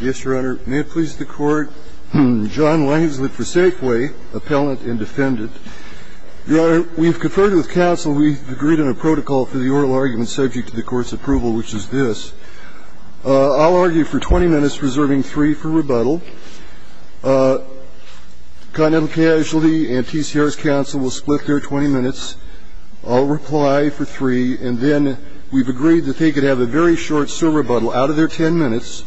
Yes, Your Honor. May it please the Court, John Langsley for Safway, Appellant and Defendant. Your Honor, we've conferred with counsel, we've agreed on a protocol for the oral argument subject to the Court's approval, which is this. I'll argue for 20 minutes, reserving 3 for rebuttal. Continental Casualty and T.C. Harris Counsel will split their 20 minutes. I'll reply for 3, and then we've agreed that they could have a very short server rebuttal out of their 10 minutes,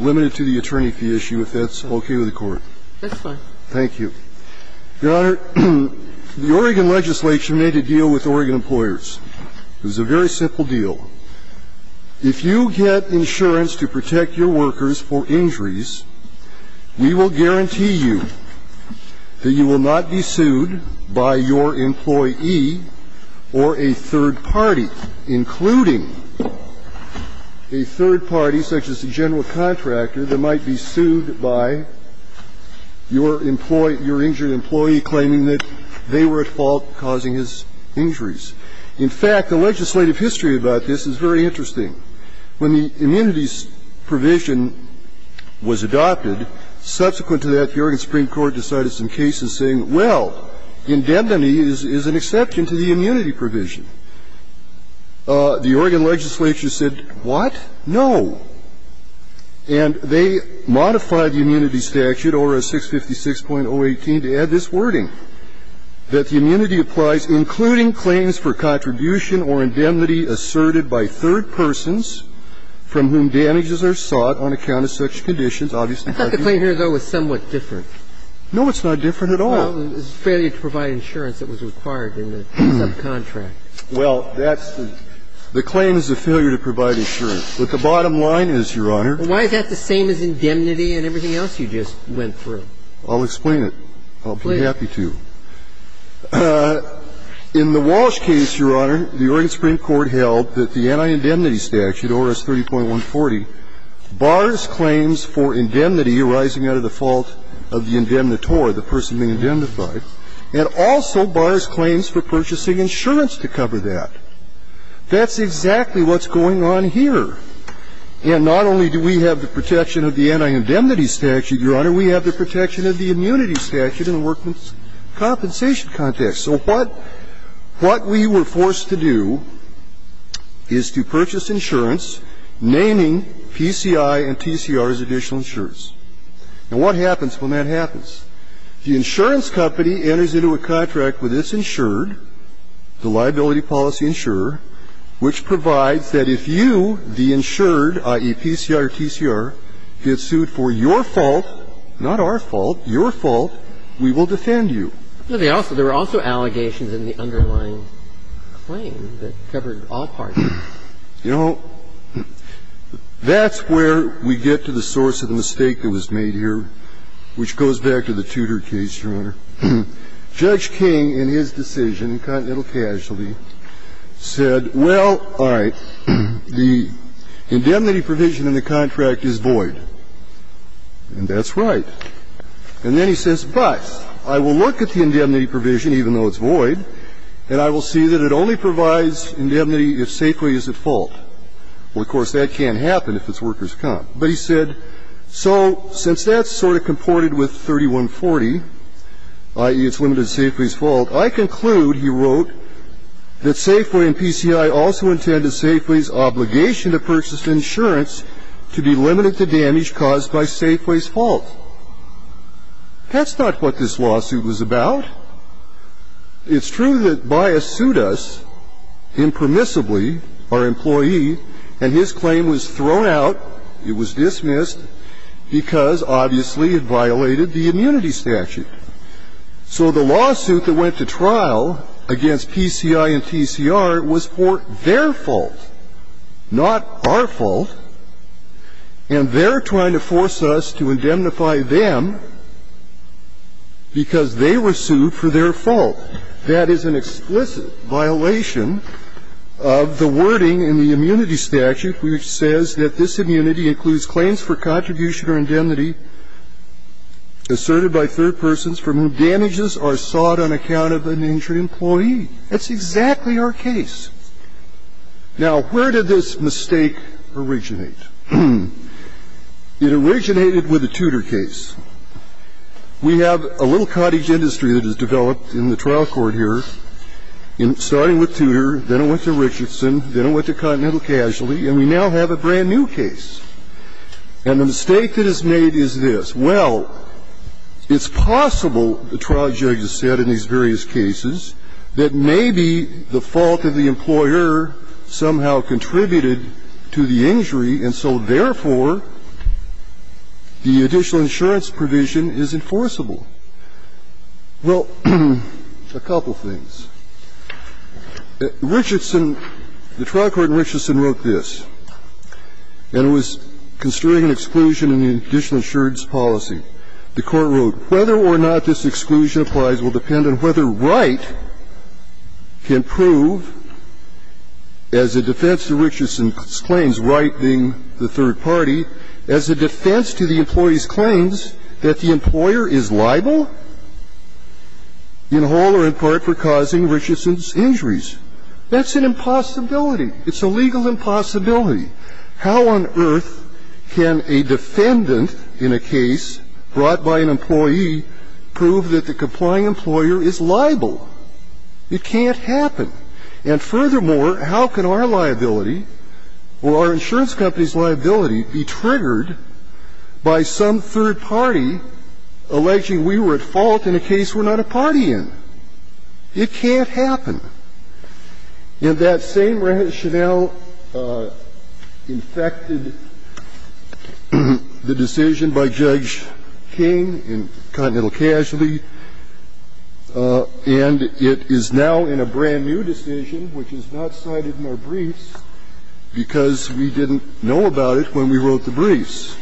limited to the attorney fee issue, if that's okay with the Court. That's fine. Thank you. Your Honor, the Oregon legislature made a deal with Oregon employers. It was a very simple deal. If you get insurance to protect your workers for injuries, we will guarantee you that you will not be sued by your employee or a third party, including a third party, such as the general contractor, that might be sued by your employee, your injured employee, claiming that they were at fault, causing his injuries. In fact, the legislative history about this is very interesting. When the immunities provision was adopted, subsequent to that, the Oregon Supreme Court decided some cases saying, well, indemnity is an exception to the immunity provision. The Oregon legislature said, what? No. And they modified the immunity statute over a 656.018 to add this wording, that the Oregon legislature should not be sued for contribution or indemnity asserted by third persons from whom damages are sought on account of such conditions. Obviously, that's not true. I thought the claim here, though, was somewhat different. No, it's not different at all. Well, it's a failure to provide insurance that was required in the subcontract. Well, that's the – the claim is the failure to provide insurance. But the bottom line is, Your Honor… The bottom line is, Your Honor, the Oregon Supreme Court held that the anti-indemnity statute, ORS 30.140, bars claims for indemnity arising out of the fault of the indemnitor, the person being indemnified, and also bars claims for purchasing insurance to cover that. That's exactly what's going on here. And not only do we have the protection of the anti-indemnity statute, Your Honor, we have the protection of the immunity statute in the workman's compensation context. So what – what we were forced to do is to purchase insurance naming PCI and TCR as additional insurance. And what happens when that happens? The insurance company enters into a contract with its insured, the liability policy insurer, which provides that if you, the insured, i.e., PCI or TCR, get sued for your fault, not our fault, your fault, we will defend you. But they also – there were also allegations in the underlying claim that covered all parties. You know, that's where we get to the source of the mistake that was made here, which goes back to the Tudor case, Your Honor. Judge King, in his decision, incontinental casualty, said, well, all right, the indemnity provision in the contract is void. And that's right. And then he says, but I will look at the indemnity provision, even though it's void, and I will see that it only provides indemnity if Safeway is at fault. Well, of course, that can't happen if it's worker's comp. But he said, so since that's sort of comported with 3140, i.e., it's limited to Safeway's fault, I conclude, he wrote, that Safeway and PCI also intended obligation to purchase insurance to be limited to damage caused by Safeway's fault. That's not what this lawsuit was about. It's true that Bias sued us impermissibly, our employee, and his claim was thrown out. It was dismissed because, obviously, it violated the immunity statute. So the lawsuit that went to trial against PCI and TCR was for their fault, not our fault. And they're trying to force us to indemnify them because they were sued for their fault. That is an explicit violation of the wording in the immunity statute which says that this immunity includes claims for contribution or indemnity asserted by third persons from whom damages are sought on account of an injured employee. That's exactly our case. Now, where did this mistake originate? It originated with the Tudor case. We have a little cottage industry that has developed in the trial court here, starting with Tudor, then it went to Richardson, then it went to Continental Casualty, and we now have a brand-new case. And the mistake that is made is this. Well, it's possible, the trial judge has said in these various cases, that maybe the fault of the employer somehow contributed to the injury, and so therefore the additional insurance provision is enforceable. Well, a couple of things. Richardson, the trial court in Richardson wrote this, and it was construing an exclusion in the additional insurance policy. The Court wrote, Whether or not this exclusion applies will depend on whether Wright can prove, as a defense to Richardson's claims, Wright being the third party, as a defense to the employee's claims that the employer is liable, in whole or in part, for causing Richardson's injuries. That's an impossibility. It's a legal impossibility. How on earth can a defendant in a case brought by an employee prove that the complying employer is liable? It can't happen. And furthermore, how can our liability, or our insurance company's liability, be triggered by some third party alleging we were at fault in a case we're not a party in? It can't happen. And that same rationale infected the decision by Judge King in Continental Casualty, and it is now in a brand-new decision, which is not cited in our briefs, because we didn't know about it when we wrote the briefs.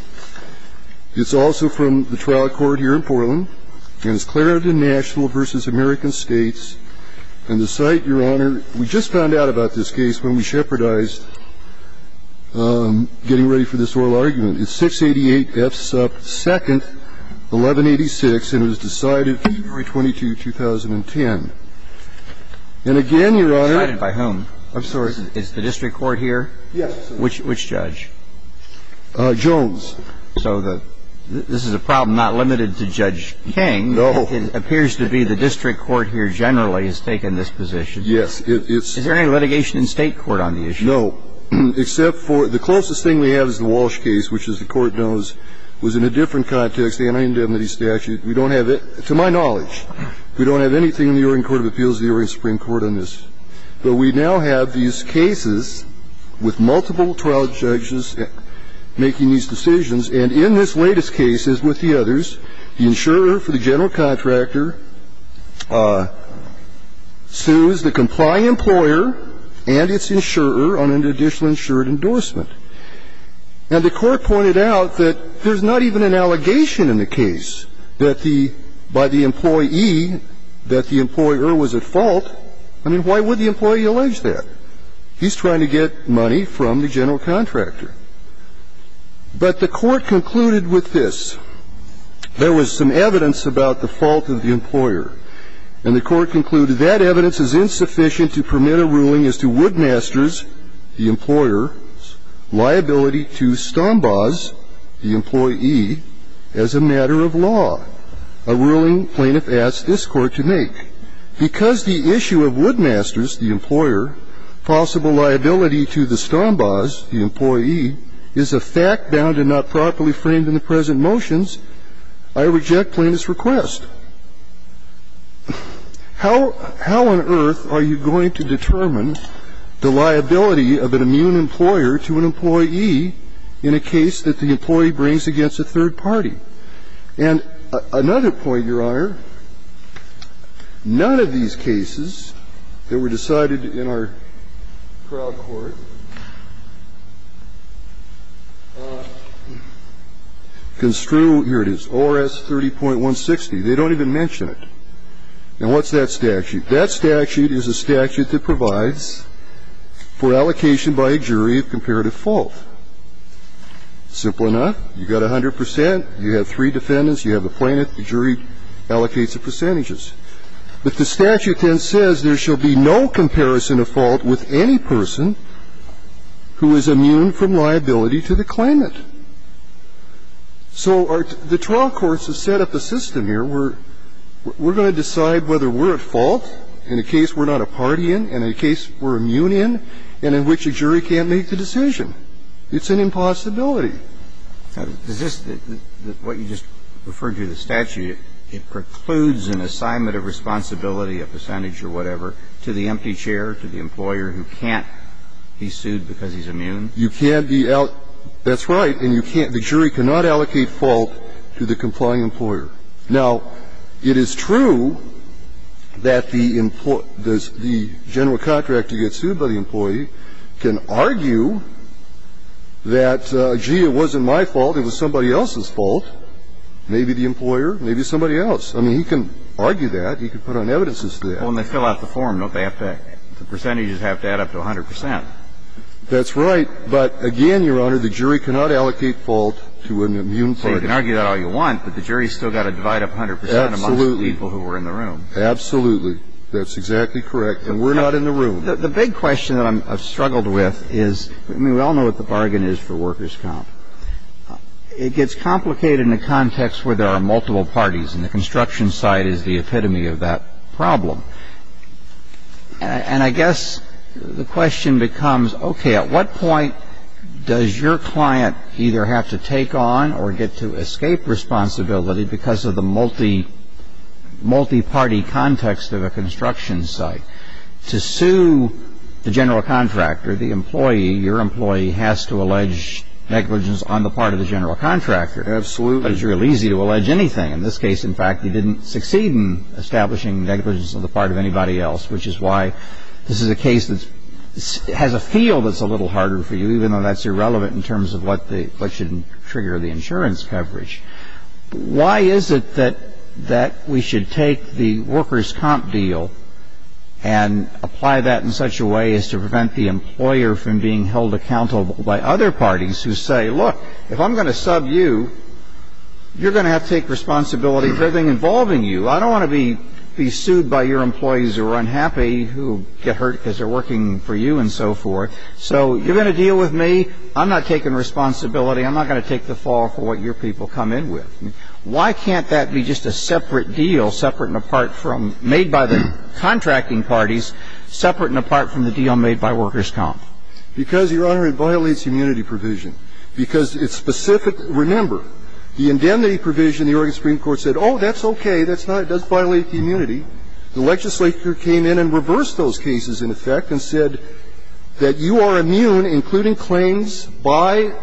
It's also from the trial court here in Portland, and it's Clarendon National v. American States. And the site, Your Honor, we just found out about this case when we shepherdized getting ready for this oral argument. It's 688 F. Supp. 2nd, 1186, and it was decided February 22, 2010. And again, Your Honor ---- Decided by whom? I'm sorry. Is the district court here? Yes. Which judge? Jones. So this is a problem not limited to Judge King. No. It appears to be the district court here generally has taken this position. Yes, it's ---- Is there any litigation in State court on the issue? No, except for the closest thing we have is the Walsh case, which, as the Court knows, was in a different context, the anti-indemnity statute. We don't have it. To my knowledge, we don't have anything in the Oregon Court of Appeals, the Oregon Supreme Court, on this. But we now have these cases with multiple trial judges making these decisions, and in this latest case, as with the others, the insurer for the general contractor sues the complying employer and its insurer on an additional insured endorsement. And the Court pointed out that there's not even an allegation in the case that the employer was at fault. I mean, why would the employee allege that? He's trying to get money from the general contractor. But the Court concluded with this. There was some evidence about the fault of the employer, and the Court concluded that evidence is insufficient to permit a ruling as to Woodmaster's, the employer's, liability to Stombaugh's, the employee, as a matter of law. A ruling plaintiff asked this Court to make. Because the issue of Woodmaster's, the employer, possible liability to the Stombaugh's, the employee, is a fact bound and not properly framed in the present motions, I reject plaintiff's request. How on earth are you going to determine the liability of an immune employer to an employee in a case that the employee brings against a third party? And another point, Your Honor, none of these cases that were decided in our crowd court construe -- here it is, ORS 30.160. They don't even mention it. Now, what's that statute? That statute is a statute that provides for allocation by a jury of comparative fault. Simple enough. You've got 100 percent. You have three defendants. You have a plaintiff. The jury allocates the percentages. But the statute then says there shall be no comparison of fault with any person who is immune from liability to the claimant. So the trial courts have set up a system here where we're going to decide whether we're at fault in a case we're not a party in, in a case we're immune in, and in which the jury can't make the decision. It's an impossibility. Now, does this, what you just referred to, the statute, it precludes an assignment of responsibility, a percentage or whatever, to the empty chair, to the employer who can't be sued because he's immune? You can't be out -- that's right. And you can't -- the jury cannot allocate fault to the complying employer. Now, it is true that the employer, the general contractor gets sued by the employee can argue that, gee, it wasn't my fault, it was somebody else's fault. Maybe the employer, maybe somebody else. I mean, he can argue that. He can put on evidences to that. Well, and they fill out the form, don't they? The percentages have to add up to 100 percent. That's right. But again, Your Honor, the jury cannot allocate fault to an immune party. So you can argue that all you want, but the jury's still got to divide up 100 percent amongst the people who are in the room. Absolutely. That's exactly correct. And we're not in the room. The big question that I've struggled with is, I mean, we all know what the bargain is for workers' comp. It gets complicated in a context where there are multiple parties, and the construction side is the epitome of that problem. And I guess the question becomes, okay, at what point does your client either have to take on or get to escape responsibility because of the multi-party context of a construction site? To sue the general contractor, the employee, your employee, has to allege negligence on the part of the general contractor. Absolutely. But it's real easy to allege anything. In this case, in fact, he didn't succeed in establishing negligence on the part of anybody else, which is why this is a case that has a feel that's a little harder for you, even though that's irrelevant in terms of what should trigger the insurance coverage. Why is it that we should take the workers' comp deal and apply that in such a way as to prevent the employer from being held accountable by other parties who say, look, if I'm going to sub you, you're going to have to take responsibility for everything involving you. I don't want to be sued by your employees who are unhappy, who get hurt because they're working for you and so forth. So you're going to deal with me. I'm not taking responsibility. I'm not going to take the fall for what your people come in with. Why can't that be just a separate deal, separate and apart from, made by the contracting parties, separate and apart from the deal made by workers' comp? Because, Your Honor, it violates immunity provision. Because it's specific. Remember, the indemnity provision, the Oregon Supreme Court said, oh, that's okay, that's not, it does violate the immunity. The legislature came in and reversed those cases, in effect, and said that you are immune, including claims by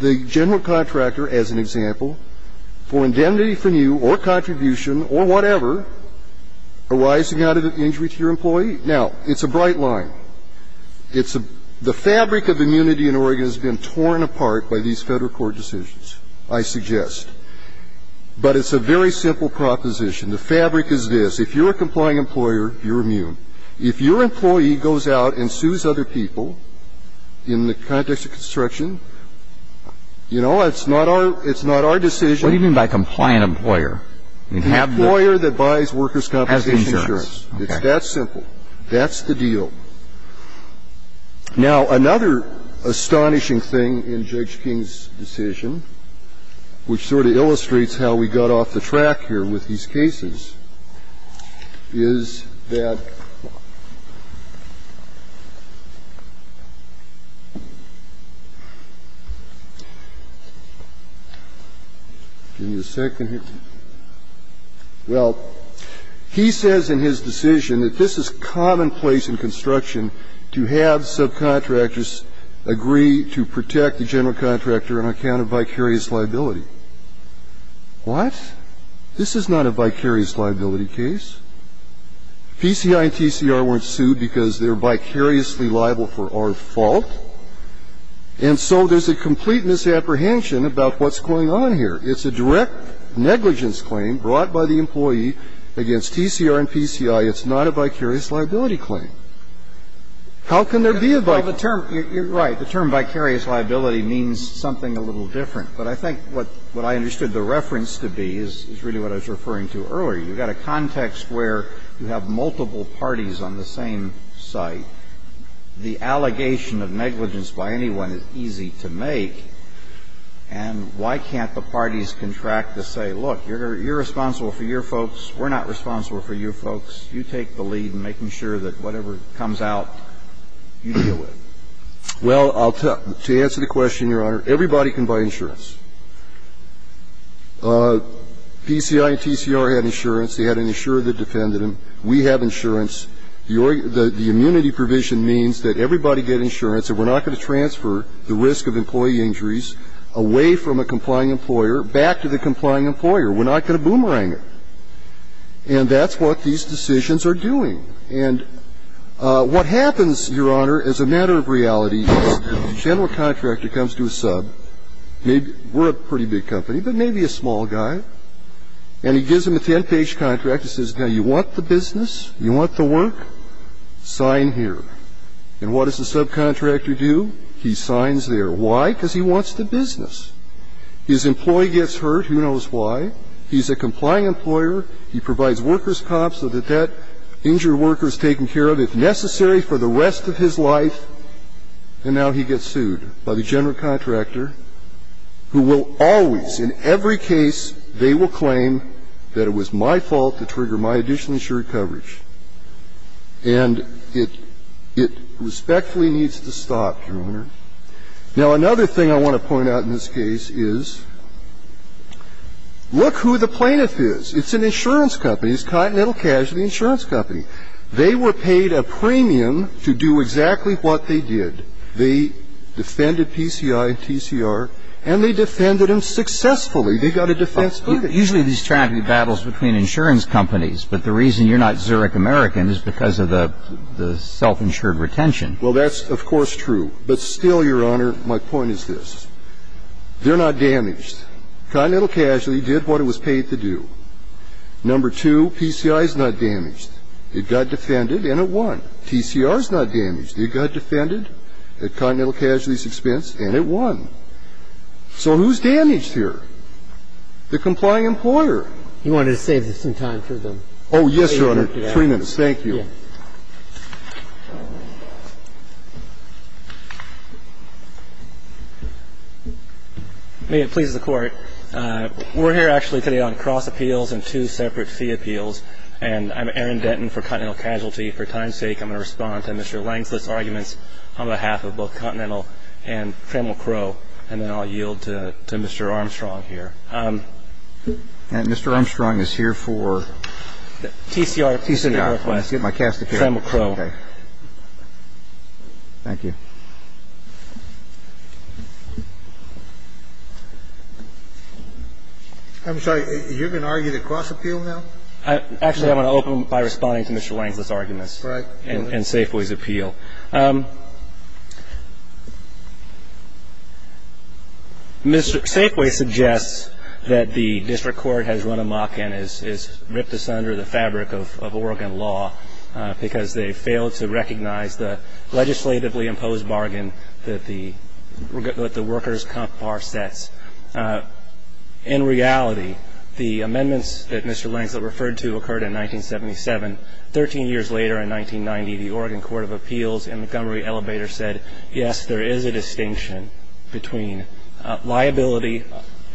the general contractor, as an example, for indemnity from you or contribution or whatever arising out of an injury to your employee. Now, it's a bright line. It's a – the fabric of immunity in Oregon has been torn apart by these Federal Court decisions, I suggest. But it's a very simple proposition. The fabric is this. If you're a complying employer, you're immune. If your employee goes out and sues other people in the context of construction, you know, it's not our, it's not our decision. What do you mean by compliant employer? An employer that buys workers' compensation insurance. Has insurance. Okay. It's that simple. That's the deal. Now, another astonishing thing in Judge King's decision, which sort of illustrates how we got off the track here with these cases, is that – give me a second here. Well, he says in his decision that this is commonplace in construction to have subcontractors agree to protect the general contractor on account of vicarious liability. What? This is not a vicarious liability case. PCI and TCR weren't sued because they're vicariously liable for our fault. And so there's a complete misapprehension about what's going on here. It's a direct negligence claim brought by the employee against TCR and PCI. It's not a vicarious liability claim. How can there be a vicarious liability claim? Well, the term – you're right. The term vicarious liability means something a little different. But I think what I understood the reference to be is really what I was referring to earlier. You've got a context where you have multiple parties on the same site. The allegation of negligence by anyone is easy to make. And why can't the parties contract to say, look, you're responsible for your folks. We're not responsible for your folks. You take the lead in making sure that whatever comes out, you deal with it. Well, to answer the question, Your Honor, everybody can buy insurance. PCI and TCR had insurance. They had an insurer that defended them. We have insurance. The immunity provision means that everybody get insurance and we're not going to transfer the risk of employee injuries away from a complying employer back to the complying employer. We're not going to boomerang it. And that's what these decisions are doing. And what happens, Your Honor, as a matter of reality, is the general contractor comes to a sub. We're a pretty big company, but maybe a small guy. And he gives them a 10-page contract that says, now, you want the business? You want the work? Sign here. And what does the subcontractor do? He signs there. Why? Because he wants the business. His employee gets hurt. Who knows why? He's a complying employer. He provides workers comps so that that injured worker is taken care of, if necessary, for the rest of his life, and now he gets sued by the general contractor, who will always, in every case, they will claim that it was my fault to trigger my additional insured coverage. And it respectfully needs to stop, Your Honor. Now, another thing I want to point out in this case is, look who the plaintiff is. It's an insurance company. It's Continental Casualty Insurance Company. They were paid a premium to do exactly what they did. They defended PCI and TCR, and they defended them successfully. They got a defense ticket. Usually, these tragic battles between insurance companies, but the reason you're not Zurich American is because of the self-insured retention. Well, that's, of course, true. But still, Your Honor, my point is this. They're not damaged. Continental Casualty did what it was paid to do. Number two, PCI is not damaged. It got defended, and it won. TCR is not damaged. It got defended at Continental Casualty's expense, and it won. So who's damaged here? The complying employer. He wanted to save some time for them. Oh, yes, Your Honor. Three minutes. Thank you. May it please the Court. We're here actually today on cross appeals and two separate fee appeals, and I'm Aaron Denton for Continental Casualty. For time's sake, I'm going to respond to Mr. Langslist's arguments on behalf of both Continental and Tremel Crow, and then I'll yield to Mr. Armstrong here. And Mr. Armstrong is here for? TCR. TCR request. I'll get my question. I cast a case. Tremel Crow. Okay. Thank you. I'm sorry. You're going to argue the cross appeal now? Actually, I'm going to open by responding to Mr. Langslist's arguments and Safeway's appeal. Safeway suggests that the district court has run amok and has ripped asunder the fabric of Oregon law because they failed to recognize the legislatively imposed bargain that the workers' comp bar sets. In reality, the amendments that Mr. Langslist referred to occurred in 1977. Thirteen years later in 1990, the Oregon Court of Appeals in Montgomery Elevator said, yes, there is a distinction between liability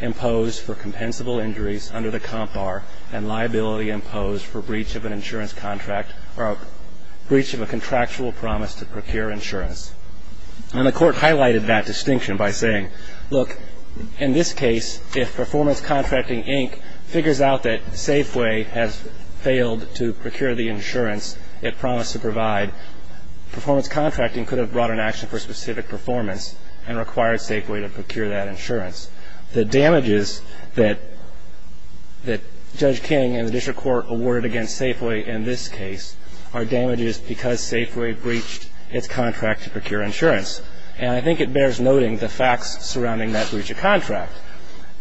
imposed for compensable injuries under the comp bar and liability imposed for breach of an insurance contract or breach of a contractual promise to procure insurance. And the court highlighted that distinction by saying, look, in this case, if Performance Contracting Inc. figures out that Safeway has failed to procure the insurance it promised to provide, Performance Contracting could have brought an action for specific performance and required Safeway to procure that insurance. The damages that Judge King and the district court awarded against Safeway in this case are damages because Safeway breached its contract to procure insurance. And I think it bears noting the facts surrounding that breach of contract.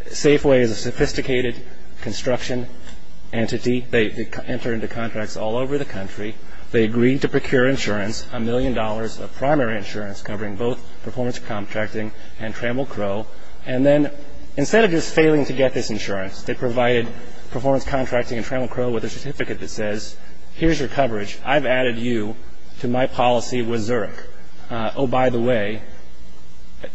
Safeway is a sophisticated construction entity. They enter into contracts all over the country. They agreed to procure insurance, a million dollars of primary insurance covering both Performance Contracting and Trammell Crowe. And then instead of just failing to get this insurance, they provided Performance Contracting and Trammell Crowe with a certificate that says, here's your coverage. I've added you to my policy with Zurich. Oh, by the way,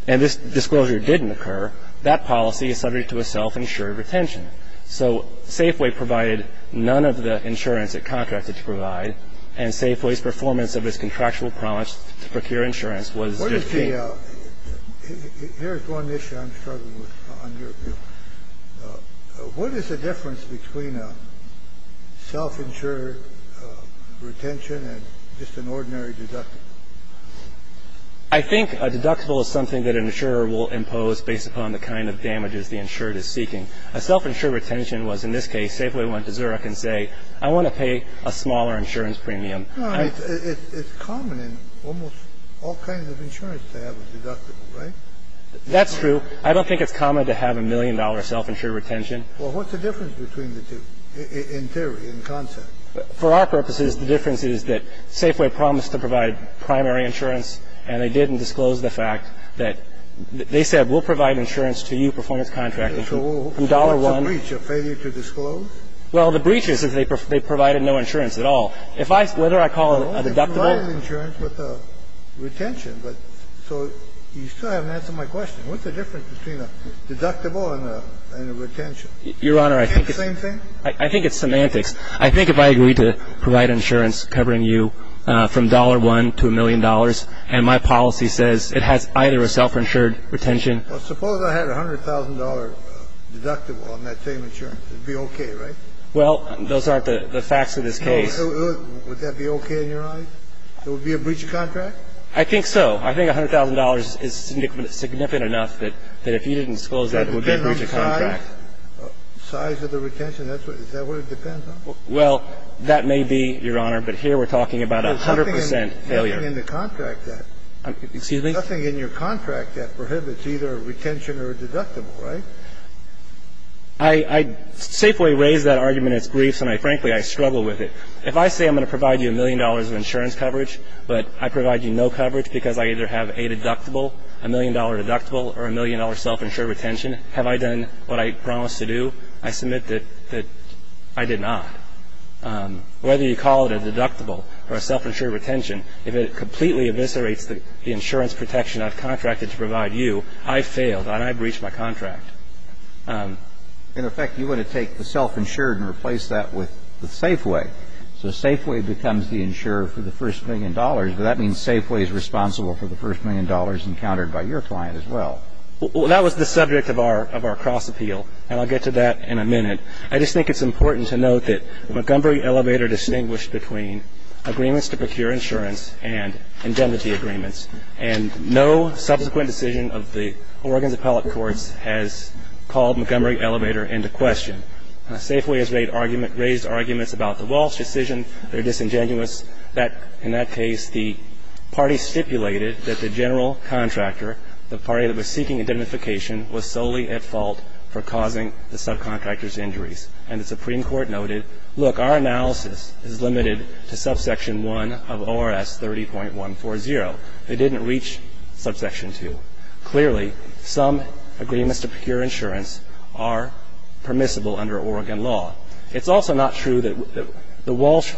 and this disclosure didn't occur, that policy is subject to a self-insured retention. So Safeway provided none of the insurance it contracted to provide, and Safeway's performance of its contractual promise to procure insurance was disdained. Yeah. Here's one issue I'm struggling with on your view. What is the difference between a self-insured retention and just an ordinary deductible? I think a deductible is something that an insurer will impose based upon the kind of damages the insured is seeking. A self-insured retention was, in this case, Safeway went to Zurich and say, I want to pay a smaller insurance premium. It's common in almost all kinds of insurance to have a deductible, right? That's true. I don't think it's common to have a million-dollar self-insured retention. Well, what's the difference between the two in theory, in concept? For our purposes, the difference is that Safeway promised to provide primary insurance, and they didn't disclose the fact that they said we'll provide insurance to you, Performance Contracting, from dollar one. So what's the breach? A failure to disclose? Well, the breach is that they provided no insurance at all. If I – whether I call it a deductible. No, they provided insurance with a retention. So you still haven't answered my question. What's the difference between a deductible and a retention? Your Honor, I think it's – Is it the same thing? I think it's semantics. I think if I agreed to provide insurance covering you from dollar one to a million dollars and my policy says it has either a self-insured retention – Well, suppose I had a $100,000 deductible on that same insurance. It would be okay, right? Well, those aren't the facts of this case. Would that be okay in your eyes? It would be a breach of contract? I think so. I think $100,000 is significant enough that if you didn't disclose that, it would be a breach of contract. It depends on size? Size of the retention? Is that what it depends on? Well, that may be, Your Honor, but here we're talking about a 100 percent failure. There's nothing in the contract that – Excuse me? There's nothing in your contract that prohibits either a retention or a deductible, I safely raise that argument in its briefs, and frankly, I struggle with it. If I say I'm going to provide you a million dollars of insurance coverage, but I provide you no coverage because I either have a deductible, a million dollar deductible, or a million dollar self-insured retention, have I done what I promised to do? I submit that I did not. Whether you call it a deductible or a self-insured retention, if it completely eviscerates the insurance protection I've contracted to provide you, I've failed, and I've breached my contract. In effect, you want to take the self-insured and replace that with the Safeway. So Safeway becomes the insurer for the first million dollars, but that means Safeway is responsible for the first million dollars encountered by your client as well. Well, that was the subject of our cross-appeal, and I'll get to that in a minute. I just think it's important to note that the Montgomery Elevator distinguished between agreements to procure insurance and indemnity agreements, and no subsequent decision of the Oregon's appellate courts has called Montgomery Elevator into question. Safeway has raised arguments about the Walsh decision. They're disingenuous. In that case, the party stipulated that the general contractor, the party that was seeking indemnification, noted, look, our analysis is limited to subsection 1 of ORS 30.140. It didn't reach subsection 2. Clearly, some agreements to procure insurance are permissible under Oregon law. It's also not true that the Walsh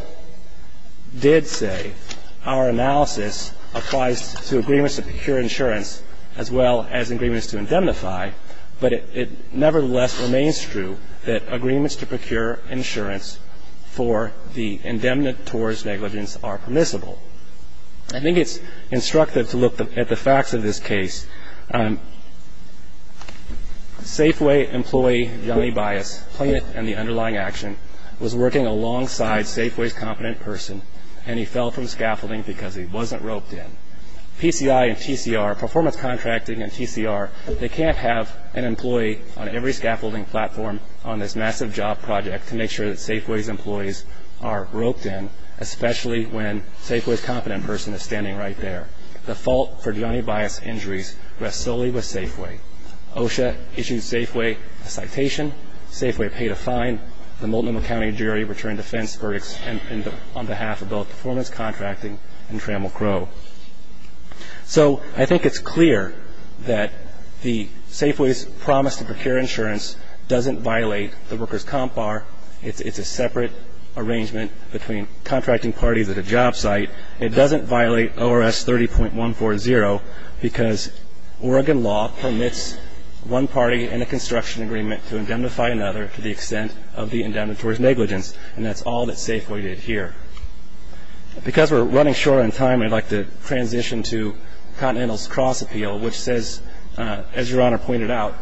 did say our analysis applies to agreements to procure insurance as well as agreements to indemnify, but it nevertheless remains true that agreements to procure insurance for the indemnant towards negligence are permissible. I think it's instructive to look at the facts of this case. Safeway employee, Johnny Bias, plaintiff in the underlying action, was working alongside Safeway's competent person, and he fell from scaffolding because he wasn't roped in. PCI and TCR, performance contracting and TCR, they can't have an employee on every scaffolding platform on this massive job project to make sure that Safeway's employees are roped in, especially when Safeway's competent person is standing right there. The fault for Johnny Bias' injuries rests solely with Safeway. OSHA issued Safeway a citation. Safeway paid a fine. The Multnomah County jury returned defense verdicts on behalf of both performance contracting and Trammell Crowe. So I think it's clear that the Safeway's promise to procure insurance doesn't violate the worker's comp bar. It's a separate arrangement between contracting parties at a job site. It doesn't violate ORS 30.140 because Oregon law permits one party in a construction agreement to indemnify another to the extent of the indemnitory's negligence, and that's all that Safeway did here. Because we're running short on time, I'd like to transition to Continental's cross appeal, which says, as Your Honor pointed out,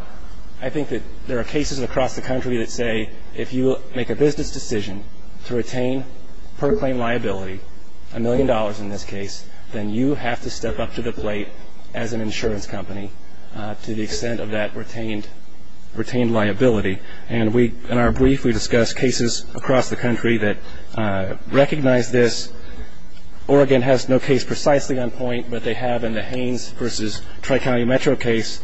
I think that there are cases across the country that say if you make a business decision to retain per claim liability, a million dollars in this case, then you have to step up to the plate as an insurance company to the extent of that retained liability. And in our brief, we discuss cases across the country that recognize this. Oregon has no case precisely on point, but they have in the Haines v. Tri-County Metro case.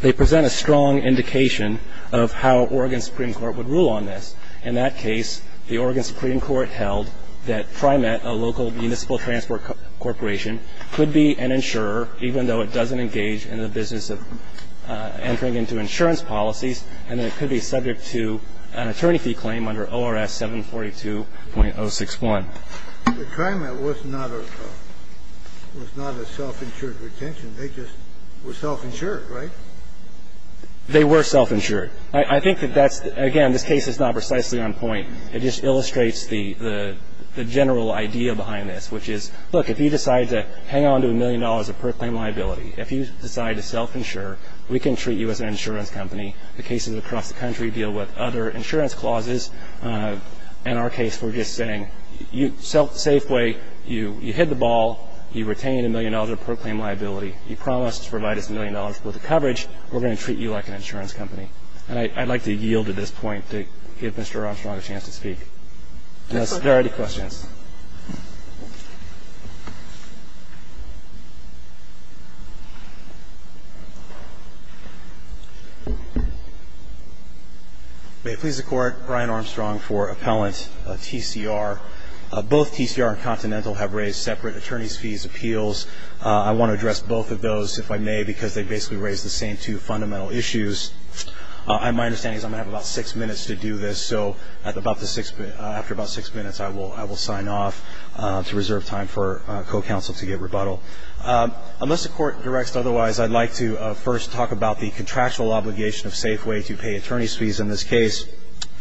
They present a strong indication of how Oregon Supreme Court would rule on this. In that case, the Oregon Supreme Court held that TriMet, a local municipal transport corporation, could be an insurer even though it doesn't engage in the business of entering into insurance policies, and that it could be subject to an attorney fee claim under ORS 742.061. The TriMet was not a self-insured retention. They just were self-insured, right? They were self-insured. I think that that's, again, this case is not precisely on point. It just illustrates the general idea behind this, which is, look, if you decide to hang on to a million dollars of per claim liability, if you decide to self-insure, we can treat you as an insurance company. The cases across the country deal with other insurance clauses. In our case, we're just saying, safe way, you hit the ball, you retain a million dollars of per claim liability, you promised to provide us a million dollars worth of coverage, we're going to treat you like an insurance company. And I'd like to yield at this point to give Mr. Armstrong a chance to speak. If there are any questions. May it please the Court, Brian Armstrong for Appellant TCR. Both TCR and Continental have raised separate attorneys' fees appeals. I want to address both of those, if I may, because they basically raise the same two fundamental issues. My understanding is I'm going to have about six minutes to do this. So after about six minutes, I will sign off to reserve time for co-counsel to get rebuttal. Unless the Court directs otherwise, I'd like to first talk about the contractual obligation of Safeway to pay attorneys' fees in this case,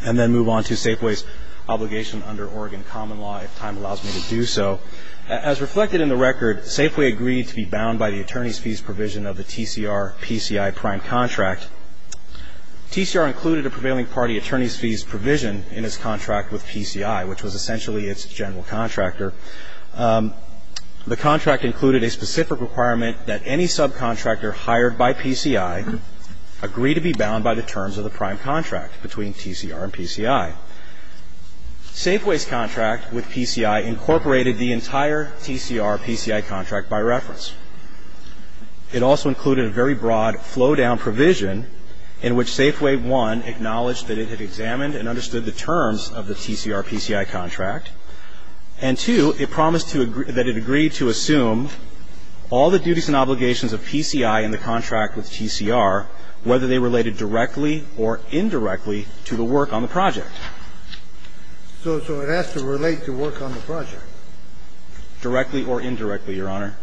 and then move on to Safeway's obligation under Oregon common law, if time allows me to do so. As reflected in the record, Safeway agreed to be bound by the attorney's fees provision of the TCR-PCI prime contract. TCR included a prevailing party attorney's fees provision in its contract with PCI, which was essentially its general contractor. The contract included a specific requirement that any subcontractor hired by PCI agree to be bound by the terms of the prime contract between TCR and PCI. Safeway's contract with PCI incorporated the entire TCR-PCI contract by reference. It also included a very broad flow-down provision in which Safeway, one, acknowledged that it had examined and understood the terms of the TCR-PCI contract, and, two, it promised that it agreed to assume all the duties and obligations of PCI in the contract with TCR, whether they related directly or indirectly to the work on the project. So it has to relate to work on the project. Directly or indirectly, Your Honor.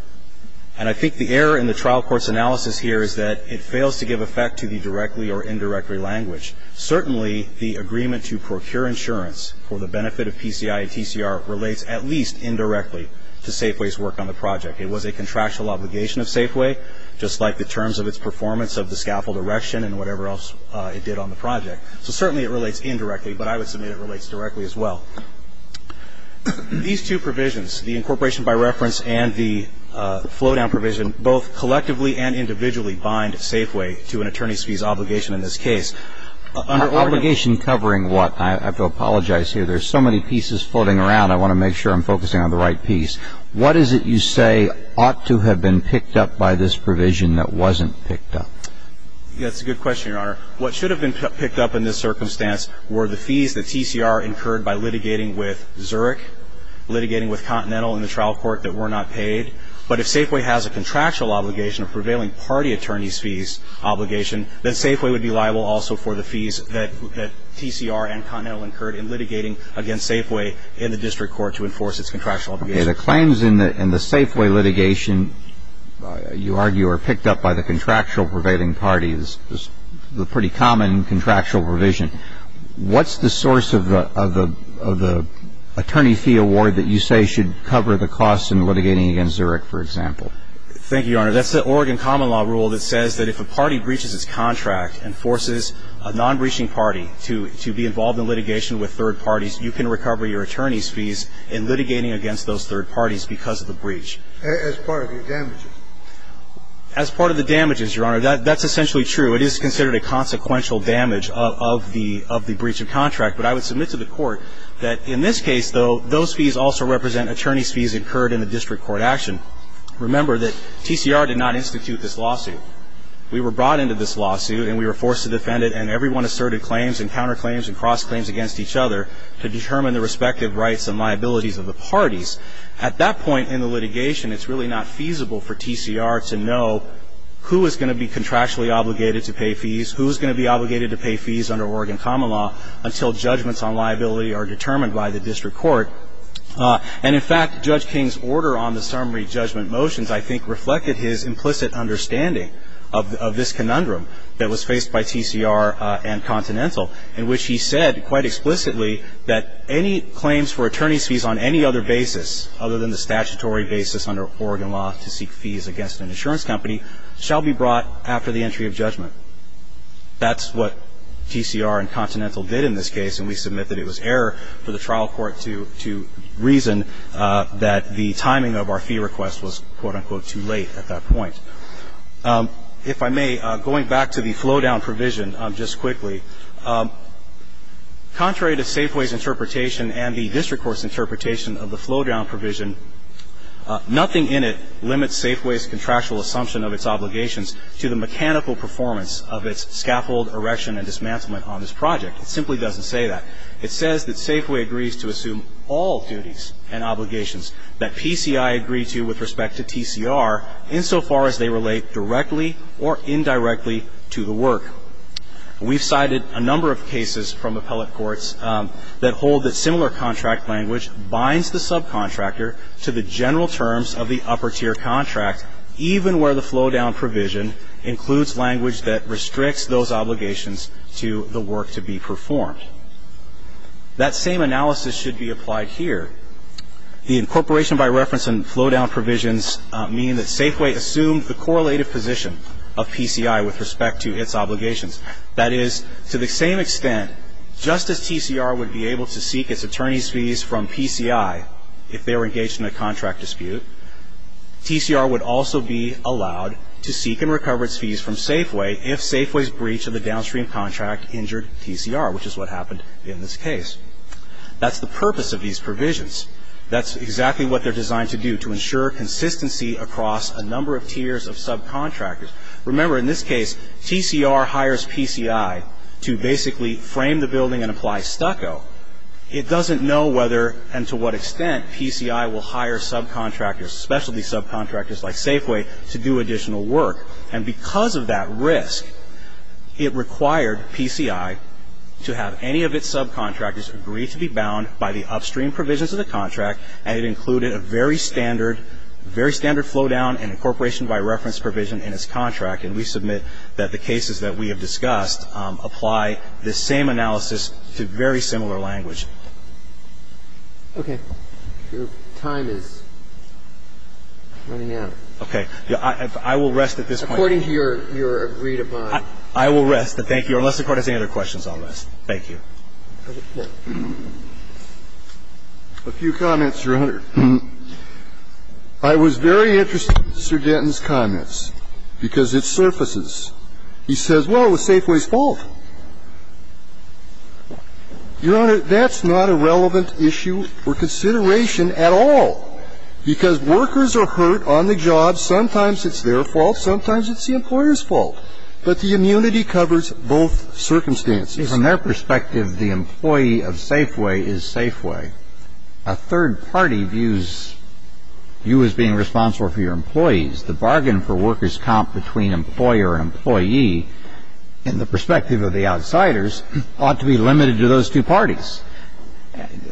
And I think the error in the trial court's analysis here is that it fails to give effect to the directly or indirectly language. Certainly, the agreement to procure insurance for the benefit of PCI and TCR relates at least indirectly to Safeway's work on the project. It was a contractual obligation of Safeway, just like the terms of its performance of the scaffold erection and whatever else it did on the project. So certainly it relates indirectly, but I would submit it relates directly as well. These two provisions, the incorporation by reference and the flow-down provision, both collectively and individually bind Safeway to an attorney's fees obligation in this case. Under order to ---- Obligation covering what? I have to apologize here. There's so many pieces floating around, I want to make sure I'm focusing on the right piece. What is it you say ought to have been picked up by this provision that wasn't picked up? That's a good question, Your Honor. What should have been picked up in this circumstance were the fees that TCR incurred by litigating with Zurich, litigating with Continental in the trial court that were not paid. But if Safeway has a contractual obligation, a prevailing party attorney's fees obligation, then Safeway would be liable also for the fees that TCR and Continental incurred in litigating against Safeway in the district court to enforce its contractual obligation. Okay. The claims in the Safeway litigation, you argue, are picked up by the contractual prevailing parties. It's a pretty common contractual provision. What's the source of the attorney fee award that you say should cover the costs in litigating against Zurich, for example? Thank you, Your Honor. That's the Oregon common law rule that says that if a party breaches its contract and forces a non-breaching party to be involved in litigation with third parties, you can recover your attorney's fees in litigating against those third parties because of the breach. As part of the damages? As part of the damages, Your Honor. That's essentially true. It is considered a consequential damage of the breach of contract. But I would submit to the Court that in this case, though, those fees also represent attorney's fees incurred in the district court action. Remember that TCR did not institute this lawsuit. We were brought into this lawsuit and we were forced to defend it, and everyone asserted claims and counterclaims and crossed claims against each other to determine the respective rights and liabilities of the parties. At that point in the litigation, it's really not feasible for TCR to know who is going to be contractually obligated to pay fees, who is going to be obligated to pay fees under Oregon common law, until judgments on liability are determined by the district court. And, in fact, Judge King's order on the summary judgment motions, I think, in which he said quite explicitly that any claims for attorney's fees on any other basis other than the statutory basis under Oregon law to seek fees against an insurance company shall be brought after the entry of judgment. That's what TCR and Continental did in this case, and we submit that it was error for the trial court to reason that the timing of our fee request was, quote, unquote, too late at that point. If I may, going back to the flow-down provision just quickly, contrary to Safeway's interpretation and the district court's interpretation of the flow-down provision, nothing in it limits Safeway's contractual assumption of its obligations to the mechanical performance of its scaffold, erection, and dismantlement on this project. It simply doesn't say that. It says that Safeway agrees to assume all duties and obligations that PCI agree to with respect to TCR insofar as they relate directly or indirectly to the work. We've cited a number of cases from appellate courts that hold that similar contract language binds the subcontractor to the general terms of the upper-tier contract, even where the flow-down provision includes language that restricts those obligations to the work to be performed. That same analysis should be applied here. The incorporation by reference and flow-down provisions mean that Safeway assumed the correlated position of PCI with respect to its obligations. That is, to the same extent, just as TCR would be able to seek its attorney's fees from PCI if they were engaged in a contract dispute, TCR would also be allowed to seek and recover its fees from Safeway if Safeway's breach of the downstream contract injured TCR, which is what happened in this case. That's the purpose of these provisions. That's exactly what they're designed to do, to ensure consistency across a number of tiers of subcontractors. Remember, in this case, TCR hires PCI to basically frame the building and apply stucco. It doesn't know whether and to what extent PCI will hire subcontractors, specialty subcontractors like Safeway, to do additional work. And because of that risk, it required PCI to have any of its subcontractors agree to be bound by the upstream provisions of the contract, and it included a very standard flow-down and incorporation by reference provision in its contract. And we submit that the cases that we have discussed apply this same analysis to very similar language. Okay. Your time is running out. Okay. I will rest at this point. According to your agreed-upon. I will rest, but thank you. Unless the Court has any other questions, I'll rest. Thank you. A few comments, Your Honor. I was very interested in Sir Denton's comments, because it surfaces. He says, well, it was Safeway's fault. Your Honor, that's not a relevant issue or consideration at all, because workers are hurt on the job. Sometimes it's their fault. Sometimes it's the employer's fault. But the immunity covers both circumstances. From their perspective, the employee of Safeway is Safeway. A third party views you as being responsible for your employees. The bargain for workers' comp between employer and employee, in the perspective of the outsiders, ought to be limited to those two parties.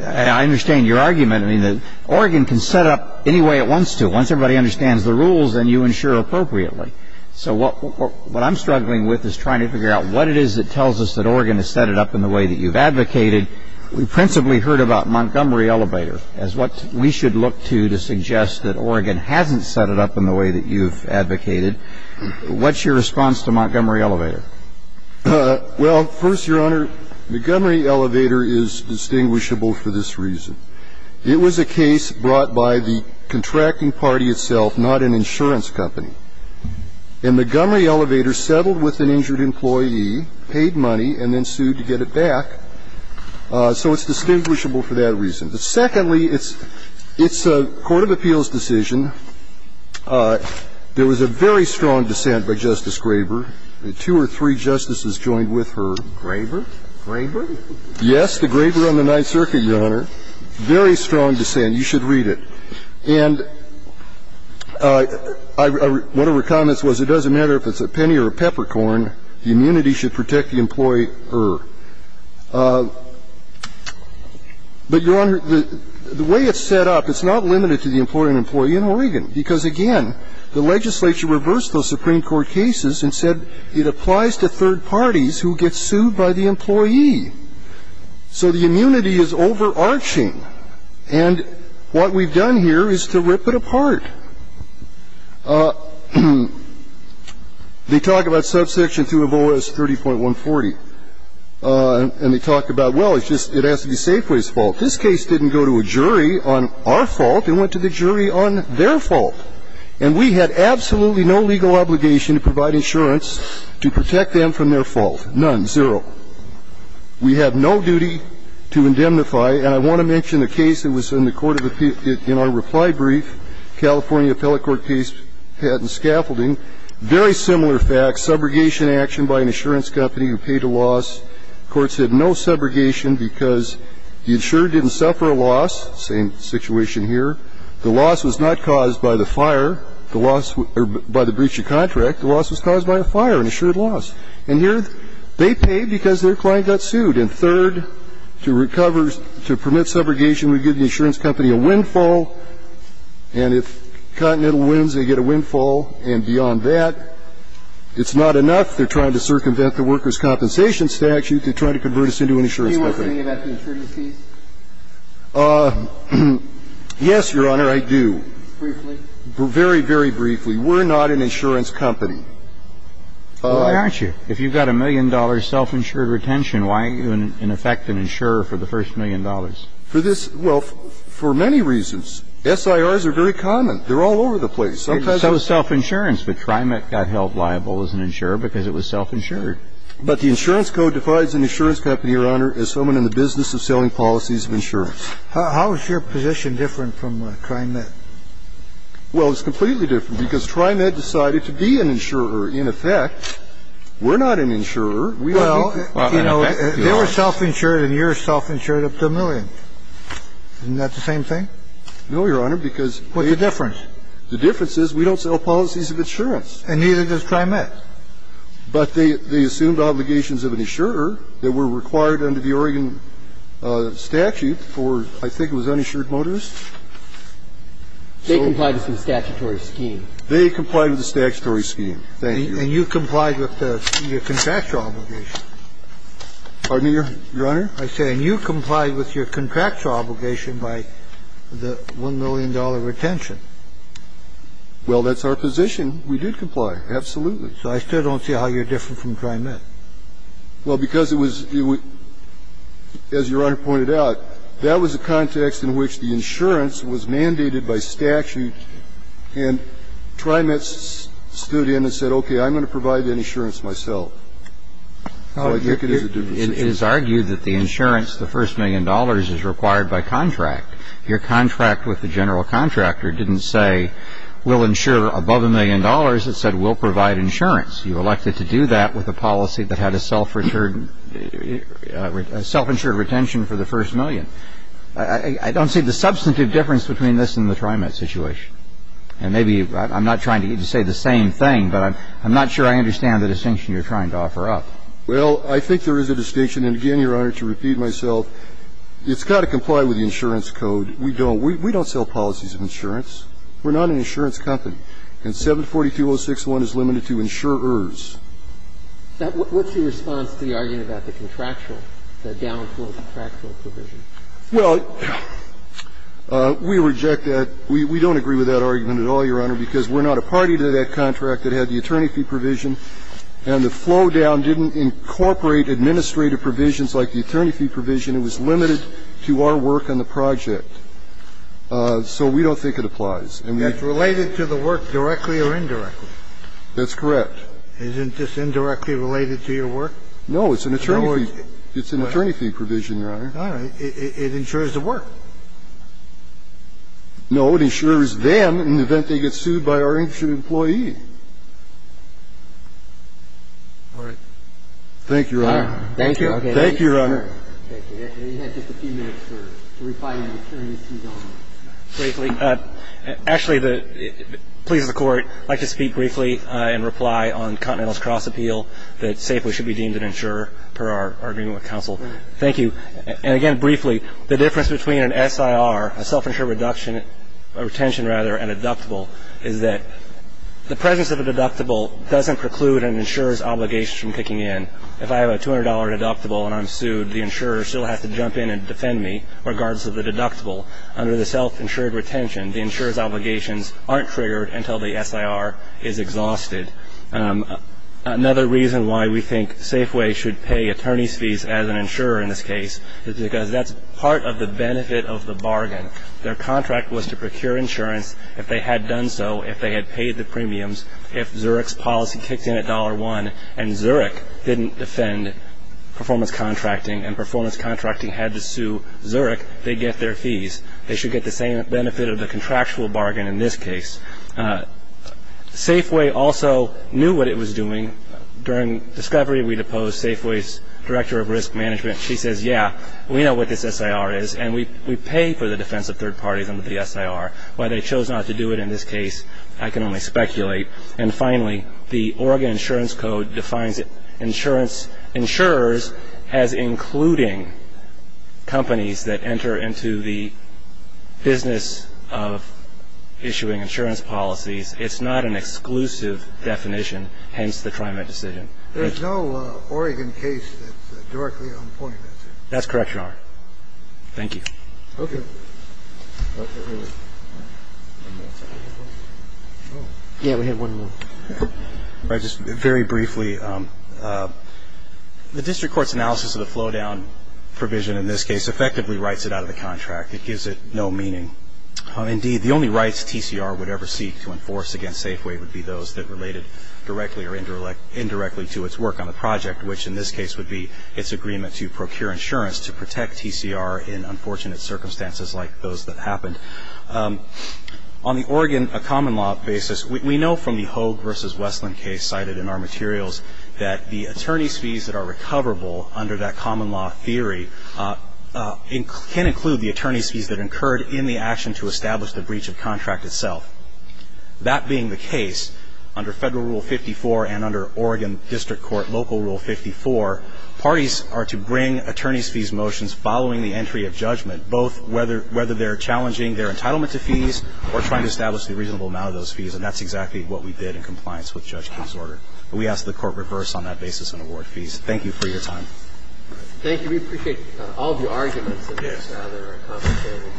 I understand your argument. I mean, Oregon can set up any way it wants to. Once everybody understands the rules, then you ensure appropriately. So what I'm struggling with is trying to figure out what it is that tells us that Oregon has set it up in the way that you've advocated. We principally heard about Montgomery Elevator as what we should look to to suggest that Oregon hasn't set it up in the way that you've advocated. What's your response to Montgomery Elevator? Well, first, Your Honor, Montgomery Elevator is distinguishable for this reason. It was a case brought by the contracting party itself, not an insurance company. And Montgomery Elevator settled with an injured employee, paid money, and then sued to get it back. So it's distinguishable for that reason. But secondly, it's a court of appeals decision. There was a very strong dissent by Justice Graber. Two or three justices joined with her. Graber? Graber? Yes, the Graber on the Ninth Circuit, Your Honor. Very strong dissent. You should read it. And one of her comments was, it doesn't matter if it's a penny or a peppercorn, the immunity should protect the employee-er. But, Your Honor, the way it's set up, it's not limited to the employee and employee in Oregon. Because, again, the legislature reversed those Supreme Court cases and said it applies to third parties who get sued by the employee. So the immunity is overarching. And what we've done here is to rip it apart. They talk about subsection 2 of OS 30.140. And they talk about, well, it's just, it has to be Safeway's fault. This case didn't go to a jury on our fault. It went to the jury on their fault. And we had absolutely no legal obligation to provide insurance to protect them from their fault. None. Zero. We have no duty to indemnify. And I want to mention the case that was in the court of appeal, in our reply brief, California Appellate Court Case Patent Scaffolding. Very similar facts. Subrogation action by an insurance company who paid a loss. Courts had no subrogation because the insurer didn't suffer a loss. Same situation here. The loss was not caused by the fire, the loss, or by the breach of contract. The loss was caused by a fire, an assured loss. And here they paid because their client got sued. And third, to recover, to permit subrogation, we give the insurance company a windfall. And if Continental wins, they get a windfall. And beyond that, it's not enough they're trying to circumvent the workers' compensation statute to try to convert us into an insurance company. Do you want to say anything about the insurance case? Yes, Your Honor, I do. Briefly? Very, very briefly. We're not an insurance company. Well, why aren't you? If you've got a million dollars self-insured retention, why aren't you, in effect, an insurer for the first million dollars? For this – well, for many reasons. SIRs are very common. They're all over the place. Sometimes they're not. It was self-insurance, but TriMet got held liable as an insurer because it was self-insured. But the insurance code defines an insurance company, Your Honor, as someone in the business of selling policies of insurance. How is your position different from TriMet? Well, it's completely different because TriMet decided to be an insurer, in effect. We're not an insurer. Well, you know, they were self-insured and you're self-insured up to a million. Isn't that the same thing? No, Your Honor, because they – What's the difference? The difference is we don't sell policies of insurance. And neither does TriMet. But they assumed obligations of an insurer that were required under the Oregon statute for, I think it was uninsured motorists. They complied with the statutory scheme. They complied with the statutory scheme. Thank you. And you complied with your contractual obligation. Pardon me, Your Honor? I said, and you complied with your contractual obligation by the $1 million retention. Well, that's our position. We did comply, absolutely. So I still don't see how you're different from TriMet. Well, because it was – as Your Honor pointed out, that was the context in which the insurance was mandated by statute and TriMet stood in and said, okay, I'm going to provide that insurance myself. So I think it is a different situation. It is argued that the insurance, the first million dollars, is required by contract. Your contract with the general contractor didn't say, we'll insure above a million dollars. It said, we'll provide insurance. You elected to do that with a policy that had a self-insured retention for the first million. I don't see the substantive difference between this and the TriMet situation. And maybe I'm not trying to say the same thing, but I'm not sure I understand the distinction you're trying to offer up. Well, I think there is a distinction. And again, Your Honor, to repeat myself, it's got to comply with the insurance code. We don't. We don't sell policies of insurance. We're not an insurance company. And 742.061 is limited to insurers. What's your response to the argument about the contractual, the downflow contractual provision? Well, we reject that. We don't agree with that argument at all, Your Honor, because we're not a party to that contract that had the attorney fee provision, and the flow down didn't incorporate administrative provisions like the attorney fee provision. It was limited to our work on the project. So we don't think it applies. It's related to the work directly or indirectly. That's correct. Isn't this indirectly related to your work? No. It's an attorney fee. It's an attorney fee provision, Your Honor. All right. It insures the work. No. It insures them in the event they get sued by our insurance employee. All right. Thank you, Your Honor. Thank you. Thank you, Your Honor. Thank you. Actually, he has just a few minutes to reply to the attorney fee, Your Honor. Actually, please, the Court, I'd like to speak briefly and reply on Continental's cross appeal that safely should be deemed an insurer per our agreement with counsel. Thank you. And, again, briefly, the difference between an SIR, a self-insured reduction or retention, rather, and a deductible is that the presence of a deductible doesn't preclude an insurer's obligation from kicking in. If I have a $200 deductible and I'm sued, the insurer still has to jump in and defend me regardless of the deductible. Under the self-insured retention, the insurer's obligations aren't triggered until the SIR is exhausted. Another reason why we think Safeway should pay attorney's fees as an insurer in this case is because that's part of the benefit of the bargain. Their contract was to procure insurance if they had done so, if they had paid the premiums, if Zurich's policy kicked in at $1 and Zurich didn't defend performance contracting and performance contracting had to sue Zurich, they'd get their fees. They should get the same benefit of the contractual bargain in this case. Safeway also knew what it was doing. During discovery, we'd opposed Safeway's director of risk management. She says, yeah, we know what this SIR is, and we pay for the defense of third parties under the SIR. Why they chose not to do it in this case, I can only speculate. And finally, the Oregon Insurance Code defines insurance, insurers as including companies that enter into the business of issuing insurance policies. It's not an exclusive definition, hence the TriMet decision. There's no Oregon case that's directly on point, is there? That's correct, Your Honor. Thank you. Okay. Yeah, we have one more. Just very briefly, the district court's analysis of the flow-down provision in this case effectively writes it out of the contract. It gives it no meaning. Indeed, the only rights TCR would ever seek to enforce against Safeway would be those that related directly or indirectly to its work on the project, which in this case would be its agreement to procure insurance to protect TCR in unfortunate circumstances like those that happened. On the Oregon common law basis, we know from the Hogue v. Westland case cited in our materials that the attorney's fees that are recoverable under that common law theory can include the attorney's fees that incurred in the action to establish the breach of contract itself. That being the case, under Federal Rule 54 and under Oregon District Court Local Rule 54, parties are to bring attorney's fees motions following the entry of judgment, both whether they're challenging their entitlement to fees or trying to establish the reasonable amount of those fees, and that's exactly what we did in compliance with Judge King's order. We ask that the Court reverse on that basis and award fees. Thank you for your time. Thank you. We appreciate all of your arguments in this rather complicated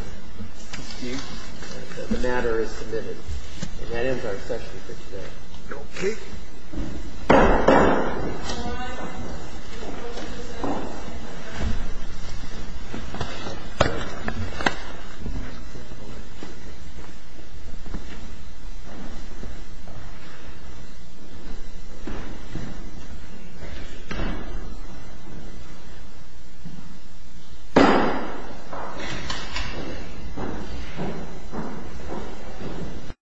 dispute. The matter is submitted. And that ends our session for today. Okay. Thank you.